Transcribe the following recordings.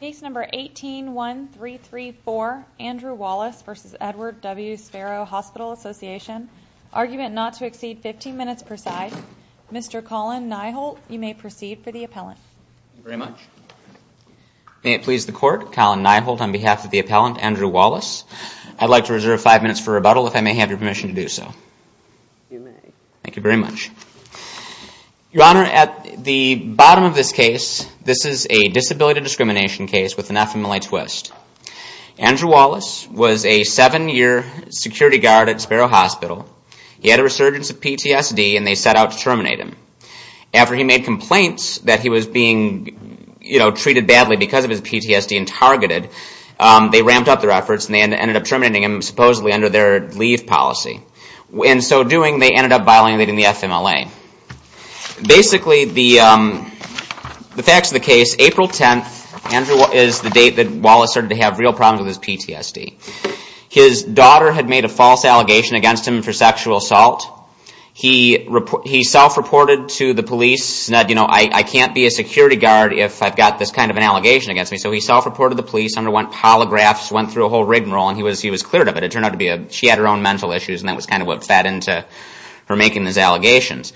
Case number 18-1334, Andrew Wallace v. Edward W Sparrow Hospital Association, argument not to exceed 15 minutes per side. Mr. Colin Nyholt, you may proceed for the appellant. Thank you very much. May it please the court, Colin Nyholt on behalf of the appellant, Andrew Wallace. I'd like to reserve five minutes for rebuttal if I may have your permission to do so. You may. Thank you very much. Your Honor, at the bottom of this case, this is a disability discrimination case with an FMLA twist. Andrew Wallace was a seven-year security guard at Sparrow Hospital. He had a resurgence of PTSD and they set out to terminate him. After he made complaints that he was being treated badly because of his PTSD and targeted, they ramped up their efforts and they ended up terminating him supposedly under their leave policy. In so doing, they ended up violating the FMLA. Basically, the facts of the case, April 10th is the date that Wallace started to have real problems with his PTSD. His daughter had made a false allegation against him for sexual assault. He self-reported to the police, you know, I can't be a security guard if I've got this kind of an allegation against me. So he self-reported to the police, underwent polygraphs, went through a whole rigmarole and he was cleared of it. It turned out to be she had her own mental issues and that was kind of what fed into her making these allegations.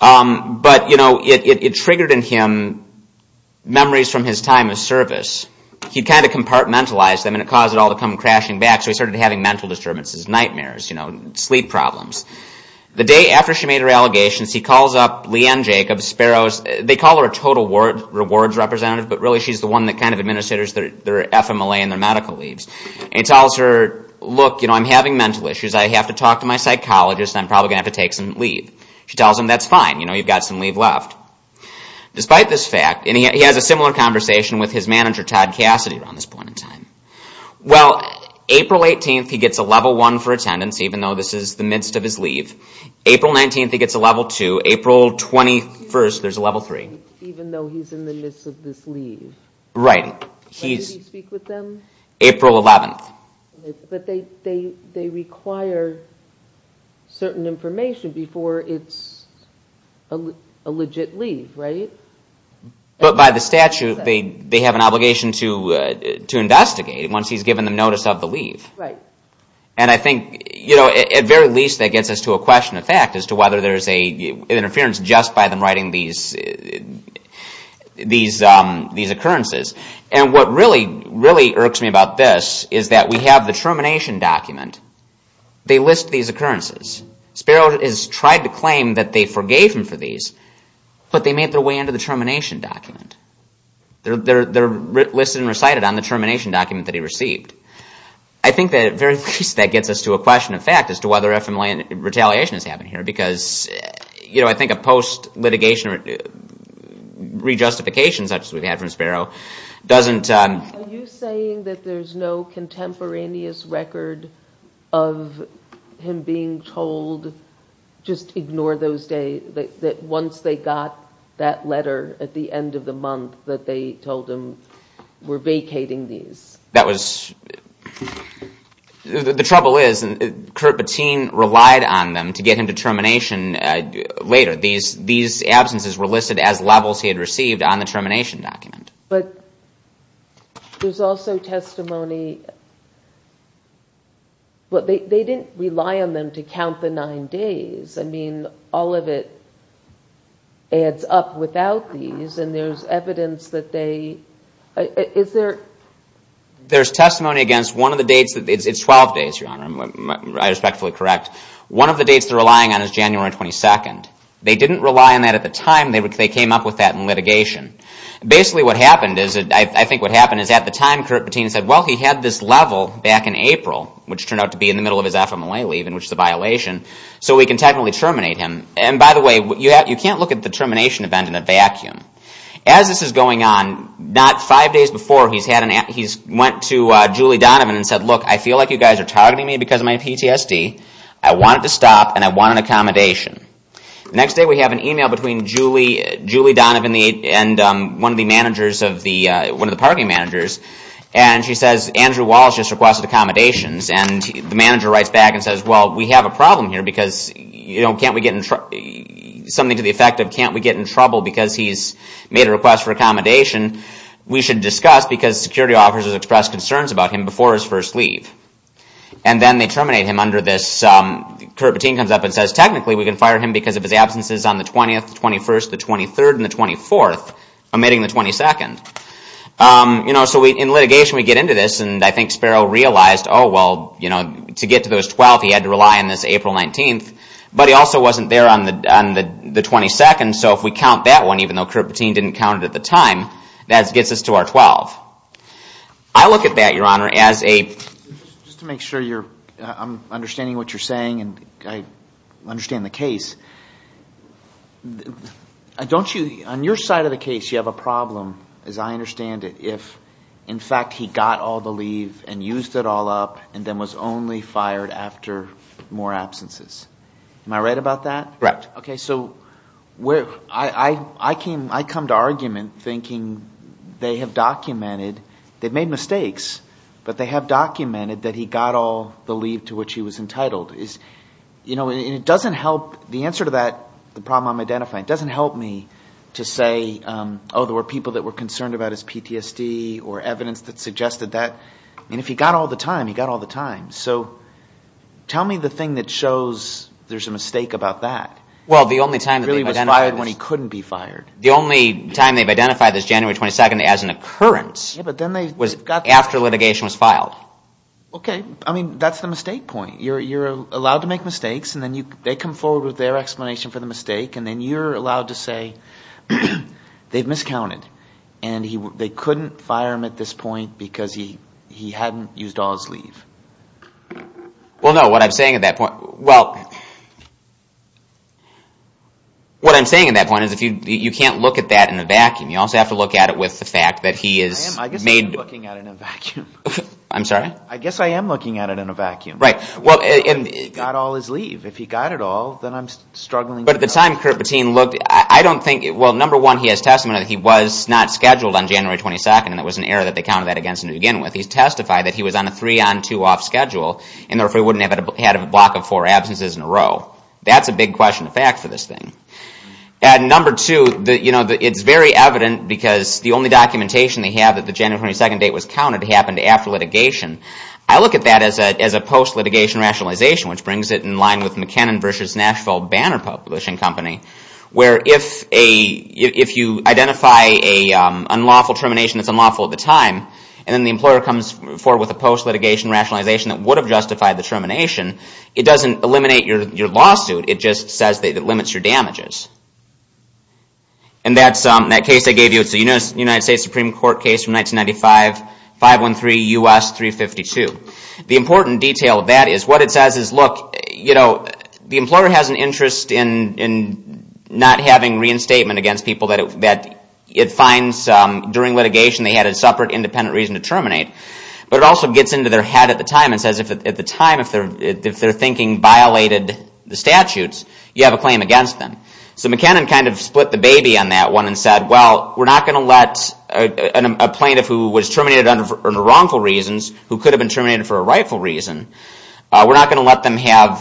But, you know, it triggered in him memories from his time of service. He kind of compartmentalized them and it caused it all to come crashing back. So he started having mental disturbances, nightmares, you know, sleep problems. The day after she made her allegations, he calls up Lee Ann Jacobs, Sparrows. They call her a total rewards representative, but really she's the one that kind of administers their FMLA and their medical leaves. And he tells her, look, you know, I'm having mental issues. I have to talk to my psychologist and I'm probably going to have to take some leave. She tells him, that's fine, you know, you've got some leave left. Despite this fact, and he has a similar conversation with his manager, Todd Cassidy, around this point in time. Well, April 18th, he gets a level 1 for attendance, even though this is the midst of his leave. April 19th, he gets a level 2. April 21st, there's a level 3. Even though he's in the midst of this leave. Right. When did he speak with them? April 11th. But they require certain information before it's a legit leave, right? But by the statute, they have an obligation to investigate once he's given the notice of the leave. Right. And I think, you know, at very least that gets us to a question of fact as to whether there's an interference just by them writing these occurrences. And what really, really irks me about this is that we have the termination document. They list these occurrences. Sparrow has tried to claim that they forgave him for these, but they made their way into the termination document. They're listed and recited on the termination document that he received. I think that at very least that gets us to a question of fact as to whether FMLA retaliation has happened here. Because, you know, I think a post-litigation re-justification, such as we've had from Sparrow, doesn't... Are you saying that there's no contemporaneous record of him being told, just ignore those days, that once they got that letter at the end of the month that they told him, we're vacating these? That was... The trouble is, Kurt Bettine relied on them to get him to termination later. These absences were listed as levels he had received on the termination document. But there's also testimony... They didn't rely on them to count the nine days. I mean, all of it adds up without these, and there's evidence that they... There's testimony against one of the dates. It's 12 days, Your Honor. I respectfully correct. One of the dates they're relying on is January 22nd. They didn't rely on that at the time. They came up with that in litigation. Basically, what happened is, I think what happened is at the time, Kurt Bettine said, well, he had this level back in April, which turned out to be in the middle of his FMLA leave, which is a violation, so we can technically terminate him. And by the way, you can't look at the termination event in a vacuum. As this is going on, not five days before, he went to Julie Donovan and said, look, I feel like you guys are targeting me because of my PTSD. I want it to stop, and I want an accommodation. The next day, we have an email between Julie Donovan and one of the parking managers, and she says, Andrew Wallace just requested accommodations, and the manager writes back and says, well, we have a problem here because something to the effect of can't we get in trouble because he's made a request for accommodation? We should discuss because security officers expressed concerns about him before his first leave. And then they terminate him under this. Kurt Bettine comes up and says, technically, we can fire him because of his absences on the 20th, 21st, the 23rd, and the 24th, omitting the 22nd. So in litigation, we get into this, and I think Sparrow realized, oh, well, to get to those 12, he had to rely on this April 19th, but he also wasn't there on the 22nd, so if we count that one, even though Kurt Bettine didn't count it at the time, that gets us to our 12. I look at that, Your Honor, as a... Just to make sure I'm understanding what you're saying and I understand the case, don't you, on your side of the case, you have a problem, as I understand it, if, in fact, he got all the leave and used it all up and then was only fired after more absences. Am I right about that? Correct. Okay, so I come to argument thinking they have documented, they've made mistakes, but they have documented that he got all the leave to which he was entitled. And it doesn't help, the answer to that problem I'm identifying, it doesn't help me to say, oh, there were people that were concerned about his PTSD or evidence that suggested that. I mean, if he got all the time, he got all the time. So tell me the thing that shows there's a mistake about that. Well, the only time he was fired when he couldn't be fired. The only time they've identified this January 22nd as an occurrence was after litigation was filed. Okay, I mean, that's the mistake point. You're allowed to make mistakes, and then they come forward with their explanation for the mistake and then you're allowed to say they've miscounted and they couldn't fire him at this point because he hadn't used all his leave. Well, no, what I'm saying at that point, well, what I'm saying at that point is you can't look at that in a vacuum. You also have to look at it with the fact that he is made... I guess I am looking at it in a vacuum. Got all his leave. If he got it all, then I'm struggling... But at the time, Curt Bettine looked... Well, number one, he has testimony that he was not scheduled on January 22nd and it was an error that they counted that against him to begin with. He testified that he was on a three-on-two-off schedule and therefore he wouldn't have had a block of four absences in a row. That's a big question of fact for this thing. And number two, it's very evident because the only documentation they have that the January 22nd date was counted happened after litigation. I look at that as a post-litigation rationalization, which brings it in line with McKinnon v. Nashville Banner Publishing Company, where if you identify an unlawful termination that's unlawful at the time, where if you identify an unlawful termination that's unlawful at the time, and then the employer comes forward with a post-litigation rationalization that would have justified the termination, It just says that it limits your damages. And that case I gave you, it's a United States Supreme Court case from 1995, 513 U.S. 352. The important detail of that is, what it says is, the employer has an interest in not having reinstatement against people that it finds during litigation they had a separate independent reason to terminate, but it also gets into their head at the time and says, if at the time their thinking violated the statutes, you have a claim against them. So McKinnon kind of split the baby on that one and said, we're not going to let a plaintiff who was terminated under wrongful reasons, who could have been terminated for a rightful reason, we're not going to let them have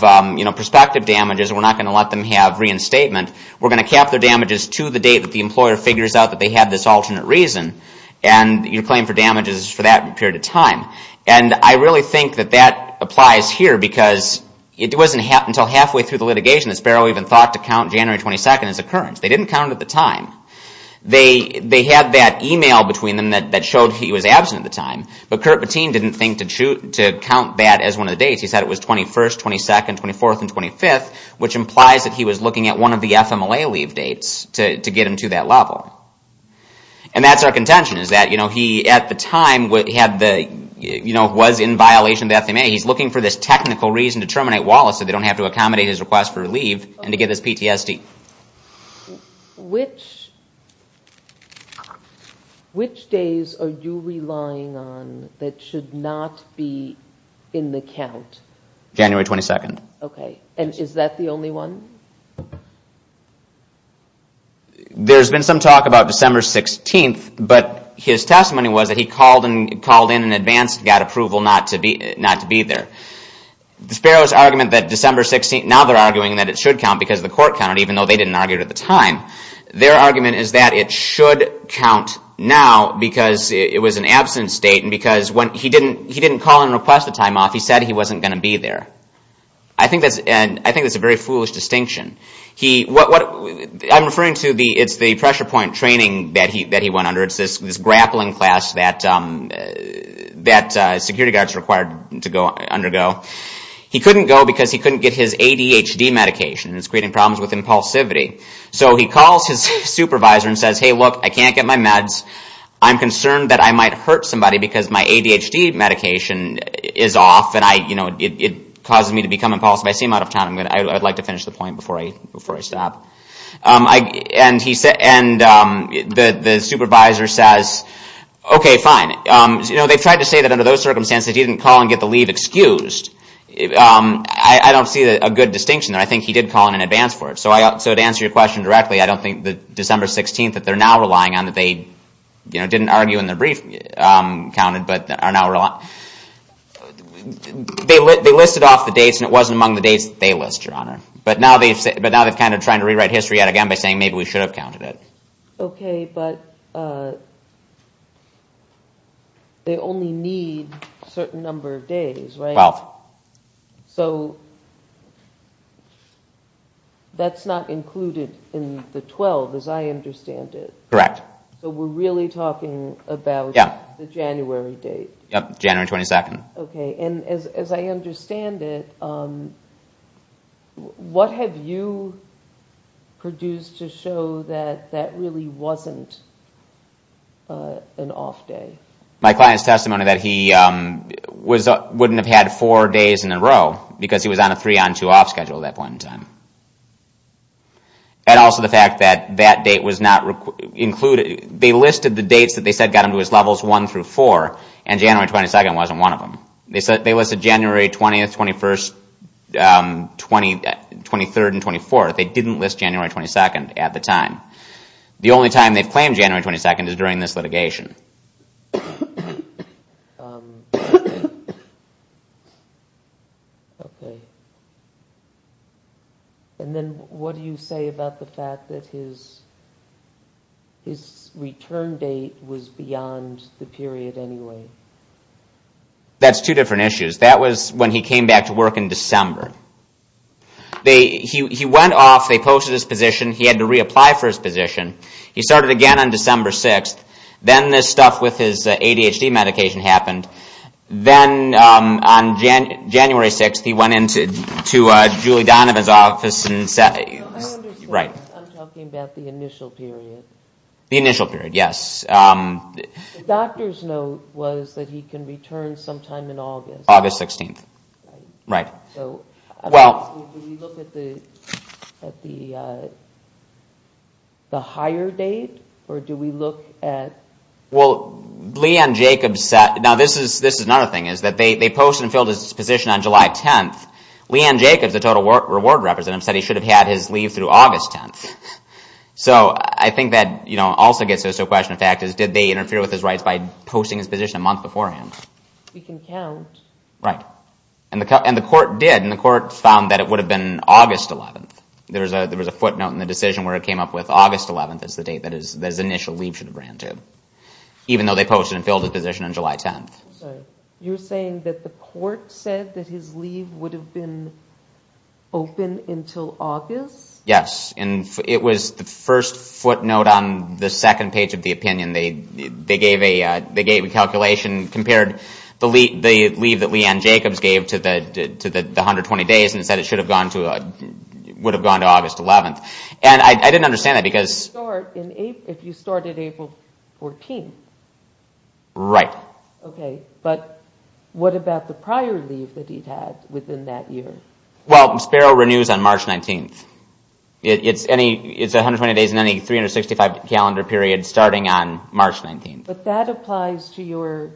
prospective damages, we're not going to let them have reinstatement, we're going to cap their damages to the date that the employer figures out that they had this alternate reason, and your claim for damages for that period of time. And I really think that that applies here, because it wasn't until halfway through the litigation that Sparrow even thought to count January 22nd as occurrence. They didn't count it at the time. They had that email between them that showed he was absent at the time, but Curt Patin didn't think to count that as one of the dates. He said it was 21st, 22nd, 24th, and 25th, which implies that he was looking at one of the FMLA leave dates to get him to that level. And that's our contention, is that he, at the time, was in violation of the FMLA. He's looking for this technical reason to terminate Wallace so they don't have to accommodate his request for leave and to get this PTSD. Which days are you relying on that should not be in the count? January 22nd. And is that the only one? There's been some talk about December 16th, but his testimony was that he called in in advance and got approval not to be there. Sparrow's argument that December 16th, now they're arguing that it should count because the court counted, even though they didn't argue it at the time. Their argument is that it should count now because it was an absent state and because he didn't call in and request a time off. He said he wasn't going to be there. I think that's a very foolish distinction. I'm referring to the pressure point training that he went under. It's this grappling class that security guards are required to undergo. He couldn't go because he couldn't get his ADHD medication and it's creating problems with impulsivity. So he calls his supervisor and says, hey, look, I can't get my meds. I'm concerned that I might hurt somebody because my ADHD medication is off and it causes me to become impulsive. I'd like to finish the point before I stop. And the supervisor says, okay, fine. They've tried to say that under those circumstances he didn't call and get the leave excused. I don't see a good distinction. I think he did call in advance for it. So to answer your question directly, I don't think that December 16th that they're now relying on that they didn't argue in their brief counted. They listed off the dates and it wasn't among the dates that they list, Your Honor. But now they're kind of trying to rewrite history yet again by saying maybe we should have counted it. Okay, but they only need a certain number of days, right? 12. So that's not included in the 12, as I understand it. Correct. So we're really talking about the January date. Yep, January 22nd. Okay, and as I understand it, what have you produced to show that that really wasn't an off day? My client's testimony that he wouldn't have had four days in a row because he was on a three-on-two-off schedule at that point in time. And also the fact that that date was not included. They listed the dates that they said got him to his levels 1 through 4 and January 22nd wasn't one of them. They listed January 20th, 21st, 23rd, and 24th. They didn't list January 22nd at the time. The only time they've claimed January 22nd is during this litigation. Okay. And then what do you say about the fact that his return date was beyond the period anyway? That's two different issues. That was when he came back to work in December. He went off, they posted his position, he had to reapply for his position. He started again on December 6th. Then this stuff with his ADHD medication happened. Then on January 6th he went into Julie Donovan's office. I understand. I'm talking about the initial period. The initial period, yes. The doctor's note was that he can return sometime in August. August 16th. Right. Do we look at the higher date? Or do we look at... This is another thing. They posted and filled his position on July 10th. Leanne Jacobs, the total reward representative, said he should have had his leave through August 10th. I think that also gets us to a question of factors. Did they interfere with his rights by posting his position a month beforehand? We can count. The court did. The court found that it would have been August 11th. There was a footnote in the decision where it came up with August 11th as the date that his initial leave should have ran to. Even though they posted and filled his position on July 10th. You're saying that the court said that his leave would have been open until August? Yes. It was the first footnote on the second page of the opinion. They gave a calculation, compared the leave that Leanne Jacobs gave to the 120 days and said it would have gone to August 11th. I didn't understand that because... If you started April 14th. Right. But what about the prior leave that he had within that year? Sparrow renews on March 19th. It's 120 days in any 365 calendar period starting on March 19th. But that applies to your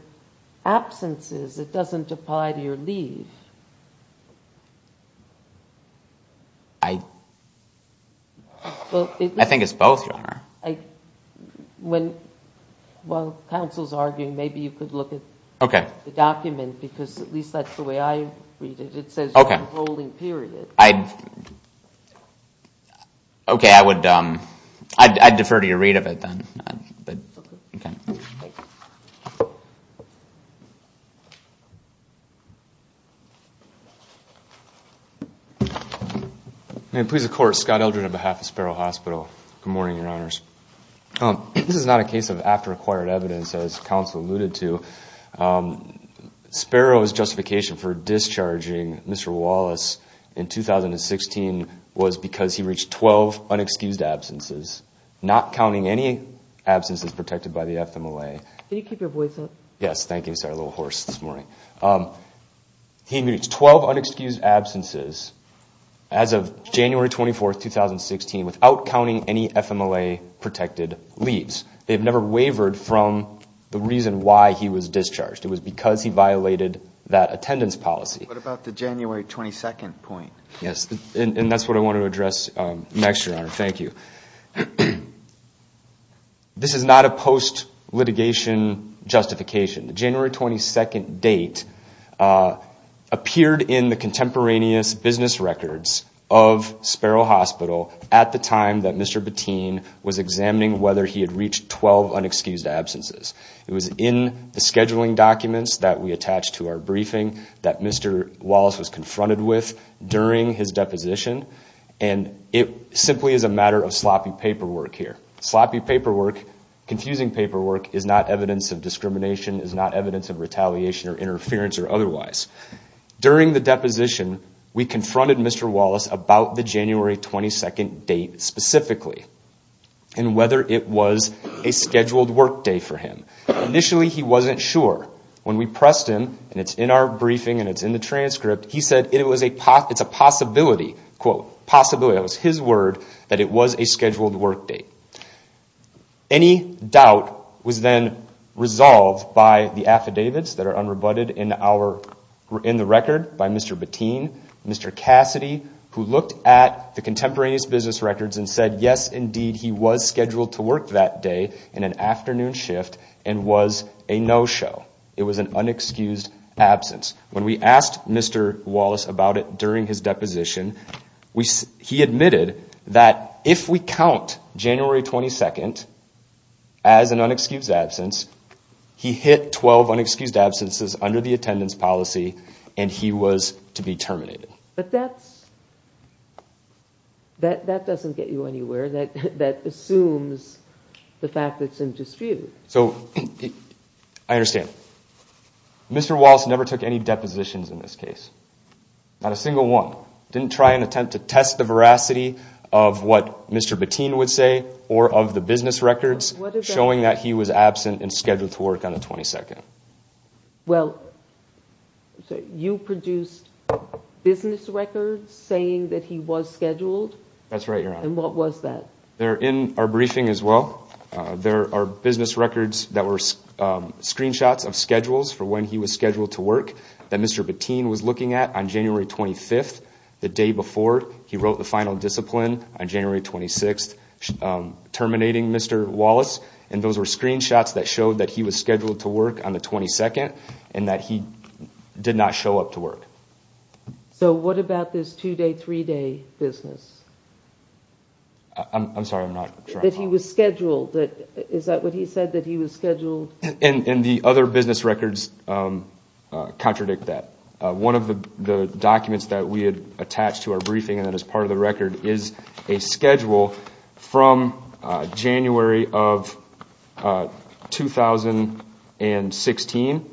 absences. It doesn't apply to your leave. I... I think it's both, Your Honor. While counsel's arguing, maybe you could look at the document because at least that's the way I read it. It says you have a rolling period. I... Okay, I would defer to your read of it then. May it please the court, Scott Eldred on behalf of Sparrow Hospital. Good morning, Your Honors. This is not a case of after-acquired evidence as counsel alluded to. Sparrow's justification for discharging Mr. Wallace in 2016 was because he reached 12 unexcused absences not counting any absences protected by the FMLA. Can you keep your voice up? Yes, thank you. Sorry, a little hoarse this morning. He reached 12 unexcused absences as of January 24th, 2016 without counting any FMLA-protected leaves. They've never wavered from the reason why he was discharged. It was because he violated that attendance policy. What about the January 22nd point? Yes, and that's what I want to address next, Your Honor. Thank you. This is not a post-litigation justification. The January 22nd date appeared in the contemporaneous business records of Sparrow Hospital at the time that Mr. Bettine was examining whether he had reached 12 unexcused absences. It was in the scheduling documents that we attached to our briefing that Mr. Wallace was confronted with during his deposition. It simply is a matter of sloppy paperwork here. Sloppy paperwork, confusing paperwork is not evidence of discrimination, is not evidence of retaliation or interference or otherwise. During the deposition, we confronted Mr. Wallace about the January 22nd date specifically and whether it was a scheduled workday for him. Initially, he wasn't sure. When we pressed him, and it's in our briefing and it's in the transcript, he said it's a possibility, quote, possibility, that was his word, that it was a scheduled workday. Any doubt was then resolved by the affidavits that are unrebutted in the record by Mr. Bettine and Mr. Cassidy who looked at the contemporaneous business records and said, yes, indeed, he was scheduled to work that day in an afternoon shift and was a no-show. It was an unexcused absence. When we asked Mr. Wallace about it during his deposition, he admitted that if we count January 22nd as an unexcused absence, he hit 12 unexcused absences under the attendance policy and he was to be terminated. But that doesn't get you anywhere. That assumes the fact that it's in dispute. So, I understand. Mr. Wallace never took any depositions in this case. Not a single one. Didn't try and attempt to test the veracity of what Mr. Bettine would say or of the business records showing that he was absent and scheduled to work on the 22nd. Well, you produced business records saying that he was scheduled? That's right, Your Honor. And what was that? In our briefing as well, there are business records that were screenshots of schedules for when he was scheduled to work that Mr. Bettine was looking at on January 25th. The day before, he wrote the final discipline on January 26th terminating Mr. Wallace and those were screenshots that showed that he was scheduled to work on the 22nd and that he did not show up to work. So, what about this two-day, three-day business? I'm sorry, I'm not sure I follow. That he was scheduled. Is that what he said? And the other business records contradict that. One of the documents that we had attached to our briefing and that is part of the record is a schedule from January of 2016.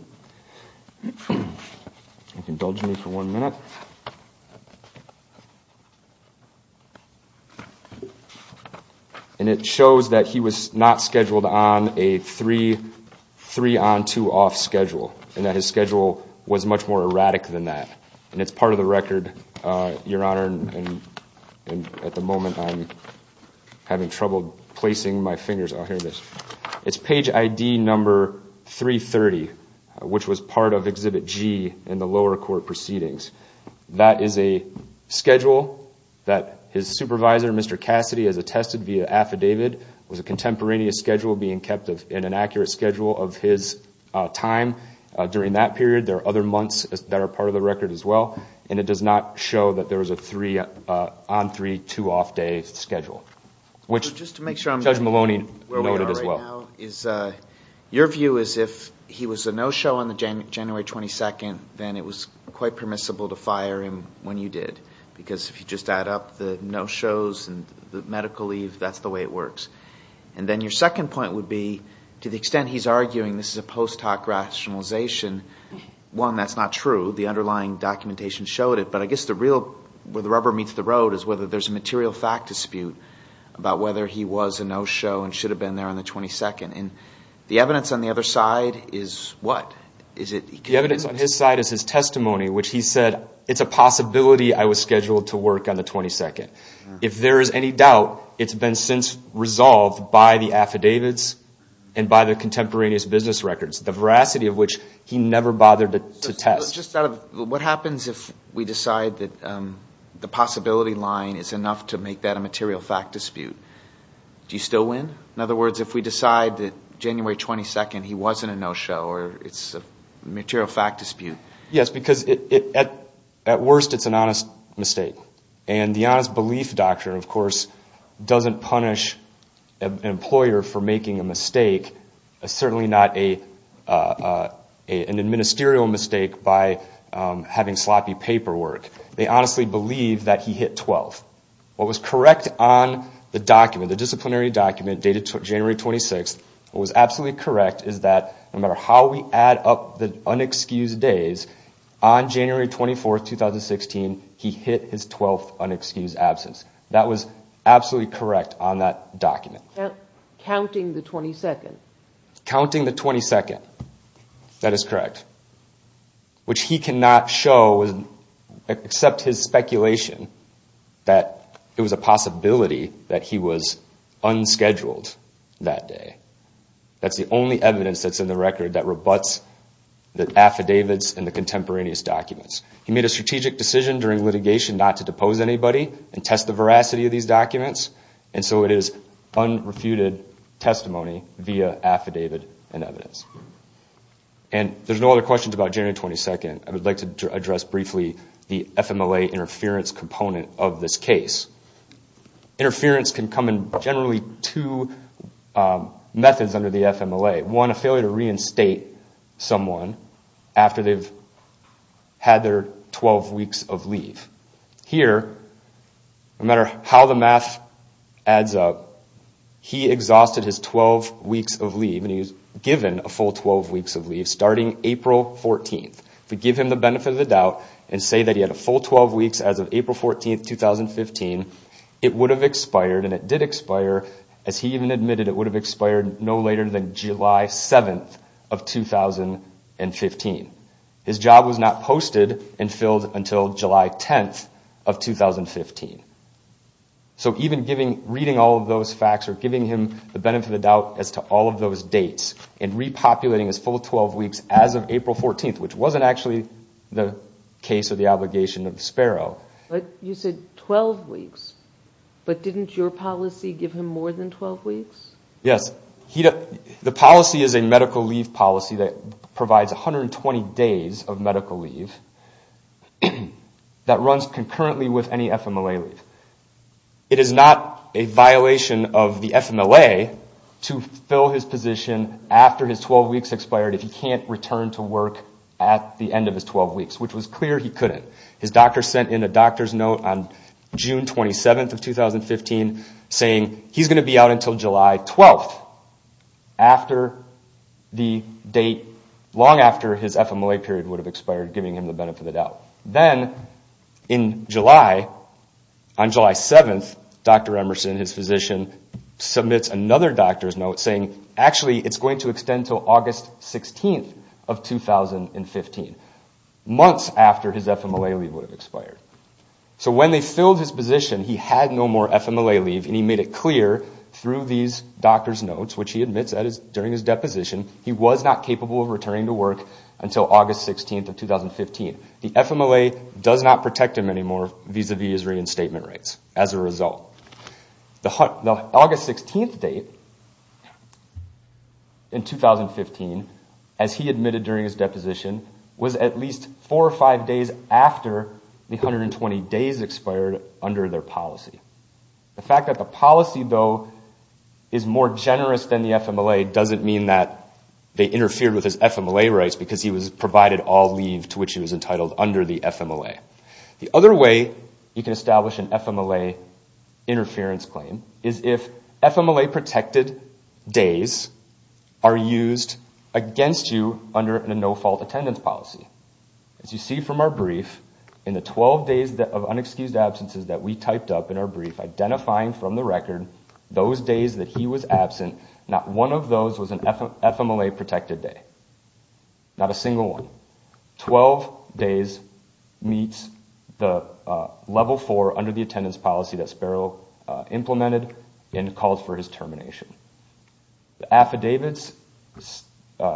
And it shows that he was not scheduled on a three-on-two-off schedule and that his schedule was much more erratic than that. And it's part of the record, Your Honor, and at the moment I'm having trouble placing my fingers. It's page ID number 330 which was part of Exhibit G in the lower court proceedings. That is a schedule that his supervisor, Mr. Cassidy, has attested via affidavit was a contemporaneous schedule being kept in an accurate schedule of his time during that period. There are other months that are part of the record as well, and it does not show that there was a three-on-three, two-off day schedule. Judge Maloney noted as well. Your view is if he was a no-show on January 22nd, then it was quite permissible to fire him when you did. Because if you just add up the no-shows and the medical leave, that's the way it works. And then your second point would be to the extent he's arguing this is a post hoc rationalization, one, that's not true. The underlying documentation showed it. But I guess where the rubber meets the road is whether there's a material fact dispute about whether he was a no-show and should have been there on the 22nd. The evidence on the other side is what? The evidence on his side is his testimony, which he said it's a possibility I was scheduled to work on the 22nd. If there is any doubt, it's been since resolved by the affidavits and by the contemporaneous business records, the veracity of which he never bothered to test. What happens if we decide that the possibility line is enough to make that a material fact dispute? Do you still win? In other words, if we decide that January 22nd he wasn't a no-show or it's a material fact dispute? Yes, because at worst it's an honest mistake. And the honest belief doctrine, of course, doesn't punish an employer for making a mistake. It's certainly not an administerial mistake by having sloppy paperwork. They honestly believe that he hit 12th. What was correct on the document, the disciplinary document dated January 26th, what was absolutely correct is that no matter how we add up the unexcused days, on January 24th, 2016, he hit his 12th unexcused absence. That was absolutely correct on that document. Counting the 22nd. Counting the 22nd. That is correct. Which he cannot show except his speculation that it was a possibility that he was unscheduled that day. That's the only evidence that's in the record that rebuts the affidavits and the contemporaneous documents. He made a strategic decision during litigation not to depose anybody and test the veracity of these documents and so it is unrefuted testimony via affidavit and evidence. And there's no other questions about January 22nd. I would like to address briefly the FMLA interference component of this case. Interference can come in generally two methods under the FMLA. One, a failure to reinstate someone after they've had their 12 weeks of leave. Here, no matter how the math adds up, he exhausted his 12 weeks of leave and he was given a full 12 weeks of leave starting April 14th. If we give him the benefit of the doubt and say that he had a full 12 weeks as of April 14th, 2015, it would have expired and it did expire as he even admitted it would have expired no later than July 7th of 2015. His job was not posted and filled until July 10th of 2015. So even reading all of those facts or giving him the benefit of the doubt as to all of those dates and repopulating his full 12 weeks as of April 14th, which wasn't actually the case or the obligation of Sparrow. You said 12 weeks, but didn't your policy give him more than 12 weeks? Yes. The policy is a medical leave policy that provides 120 days of medical leave that runs concurrently with any FMLA leave. It is not a violation of the FMLA to fill his position after his 12 weeks expired if he can't return to work at the end of his 12 weeks, which was clear he couldn't. His doctor sent in a doctor's note on June 27th of 2015 saying he's going to be out until July 12th long after his FMLA period would have expired, giving him the benefit of the doubt. Then on July 7th, Dr. Emerson, his physician, submits another doctor's note saying it's going to extend until August 16th of 2015, months after his FMLA leave would have expired. So when they filled his position, he had no more FMLA leave and he made it clear through these doctor's notes which he admits during his deposition he was not capable of returning to work until August 16th of 2015. The FMLA does not protect him anymore vis-a-vis his reinstatement rights as a result. The August 16th date in 2015, as he admitted during his deposition, was at least four or five days after the 120 days expired under their policy. The fact that the policy, though, is more generous than the FMLA doesn't mean that they interfered with his FMLA rights because he was provided all leave to which he was entitled under the FMLA. The other way you can establish an FMLA interference claim is if FMLA-protected days are used against you under a no-fault attendance policy. As you see from our brief, in the 12 days of unexcused absences that we typed up in our brief identifying from the record those days that he was absent, not one of those was an FMLA-protected day. Not a single one. Twelve days meets the level four under the attendance policy that Sparrow implemented and called for his termination. The affidavits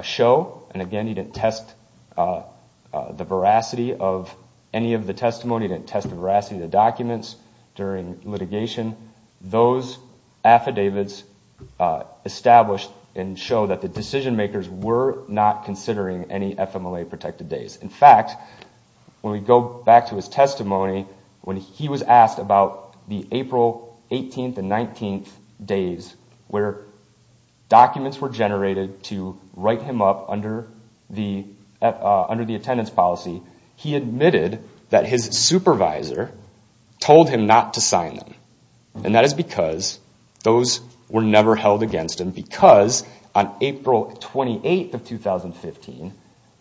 show, and again, he didn't test the veracity of any of the testimony, he didn't test the veracity of the documents during litigation, those affidavits establish and show that the decision-makers were not considering any FMLA-protected days. In fact, when we go back to his testimony when he was asked about the April 18th and 19th days where documents were generated to write him up under the attendance policy, he admitted that his supervisor told him not to sign them. And that is because those were never held against him because on April 28th of 2015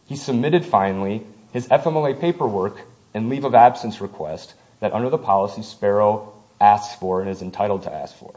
he submitted finally his FMLA paperwork and leave of absence request that under the policy Sparrow asks for and is entitled to ask for.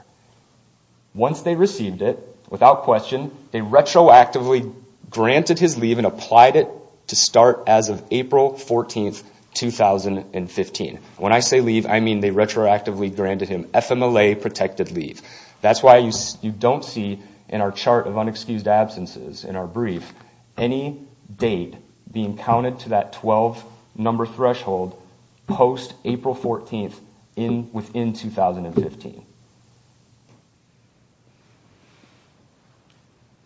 Once they received it, without question, they retroactively granted his leave and applied it to start as of April 14th, 2015. When I say leave, I mean they retroactively granted him FMLA-protected leave. That's why you don't see in our chart of unexcused absences in our brief any date being counted to that 12-number threshold post-April 14th within 2015.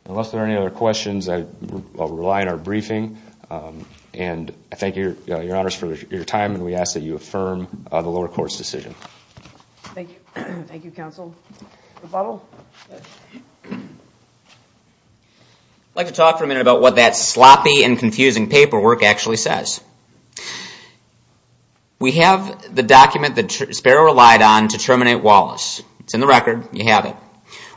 Unless there are any other questions, I will rely on our briefing. And I thank your honors for your time and we ask that you affirm the lower court's decision. Thank you, counsel. I'd like to talk for a minute about what that sloppy and confusing paperwork actually says. We have the document that Sparrow relied on to terminate Wallace.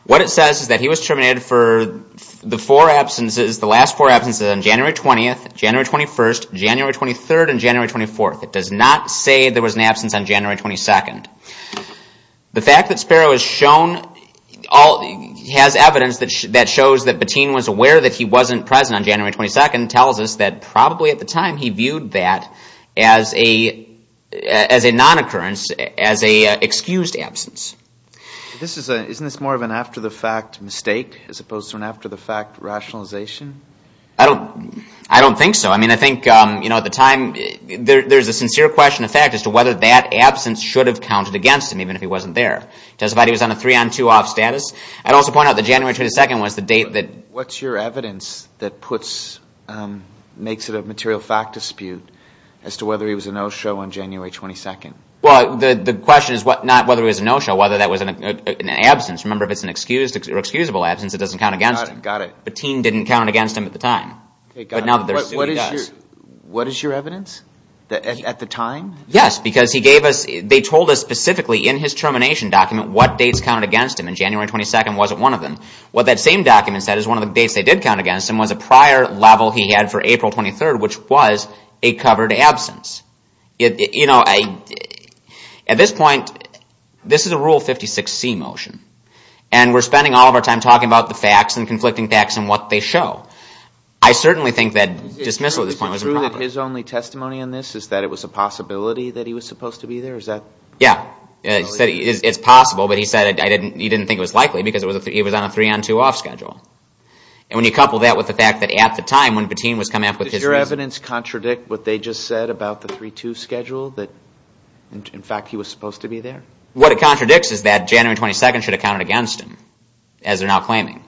What it says is that he was terminated for the last four absences on January 20th, January 21st, January 23rd, and January 24th. It does not say there was an absence on January 22nd. The fact that Sparrow has evidence that shows that Bettine was aware that he wasn't present on January 22nd tells us that probably at the time he viewed that as a non-occurrence, as an excused absence. Isn't this more of an after-the-fact mistake as opposed to an after-the-fact rationalization? I don't think so. I think at the time there's a sincere question of fact as to whether that absence should have counted against him even if he wasn't there. I'd also point out that January 22nd was the date that... What's your evidence that makes it a material fact dispute as to whether he was a no-show on January 22nd? The question is not whether he was a no-show, whether that was an absence. Remember, if it's an excusable absence, it doesn't count against him. Bettine didn't count against him at the time. What is your evidence? At the time? Yes, because they told us specifically in his termination document what dates counted against him, and January 22nd wasn't one of them. What that same document said is one of the dates they did count against him was a prior level he had for April 23rd, which was a covered absence. At this point, this is a Rule 56C motion, and we're spending all of our time talking about the facts and conflicting facts and what they show. I certainly think that dismissal at this point was improper. Is it true that his only testimony on this is that it was a possibility that he was supposed to be there? Yeah, he said it's possible, but he said he didn't think it was likely because he was on a three-on-two-off schedule. And when you couple that with the fact that at the time, when Bettine was coming up with his... Does your evidence contradict what they just said about the 3-2 schedule, that in fact he was supposed to be there? What it contradicts is that January 22nd should have counted against him, as they're now claiming.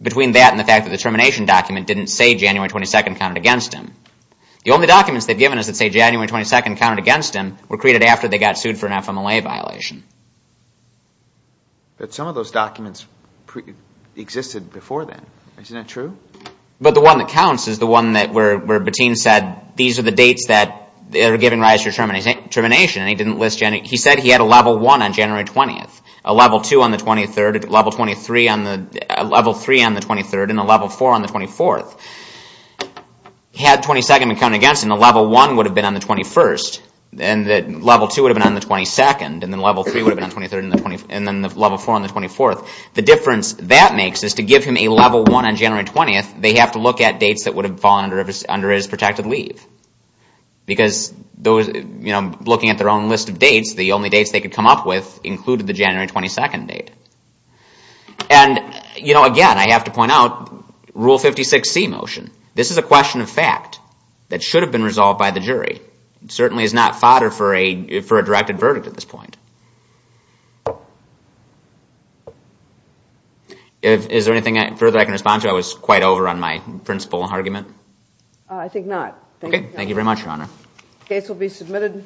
Between that and the fact that the termination document didn't say that January 22nd counted against him were created after they got sued for an FMLA violation. But some of those documents existed before then. Isn't that true? But the one that counts is the one where Bettine said these are the dates that are giving rise to termination, and he said he had a Level 1 on January 20th, a Level 2 on the 23rd, a Level 3 on the 23rd, and a Level 4 on the 24th. Had 22nd been counted against him, the Level 1 would have been on the 21st, and the Level 2 would have been on the 22nd, and the Level 3 would have been on the 23rd, and the Level 4 on the 24th. The difference that makes is to give him a Level 1 on January 20th, they have to look at dates that would have fallen under his protected leave. Because looking at their own list of dates, the only dates they could come up with included the January 22nd date. And again, I have to point out, this is a Rule 56C motion. This is a question of fact that should have been resolved by the jury. It certainly is not fodder for a directed verdict at this point. Is there anything further I can respond to? I was quite over on my principal argument. I think not. The case will be submitted.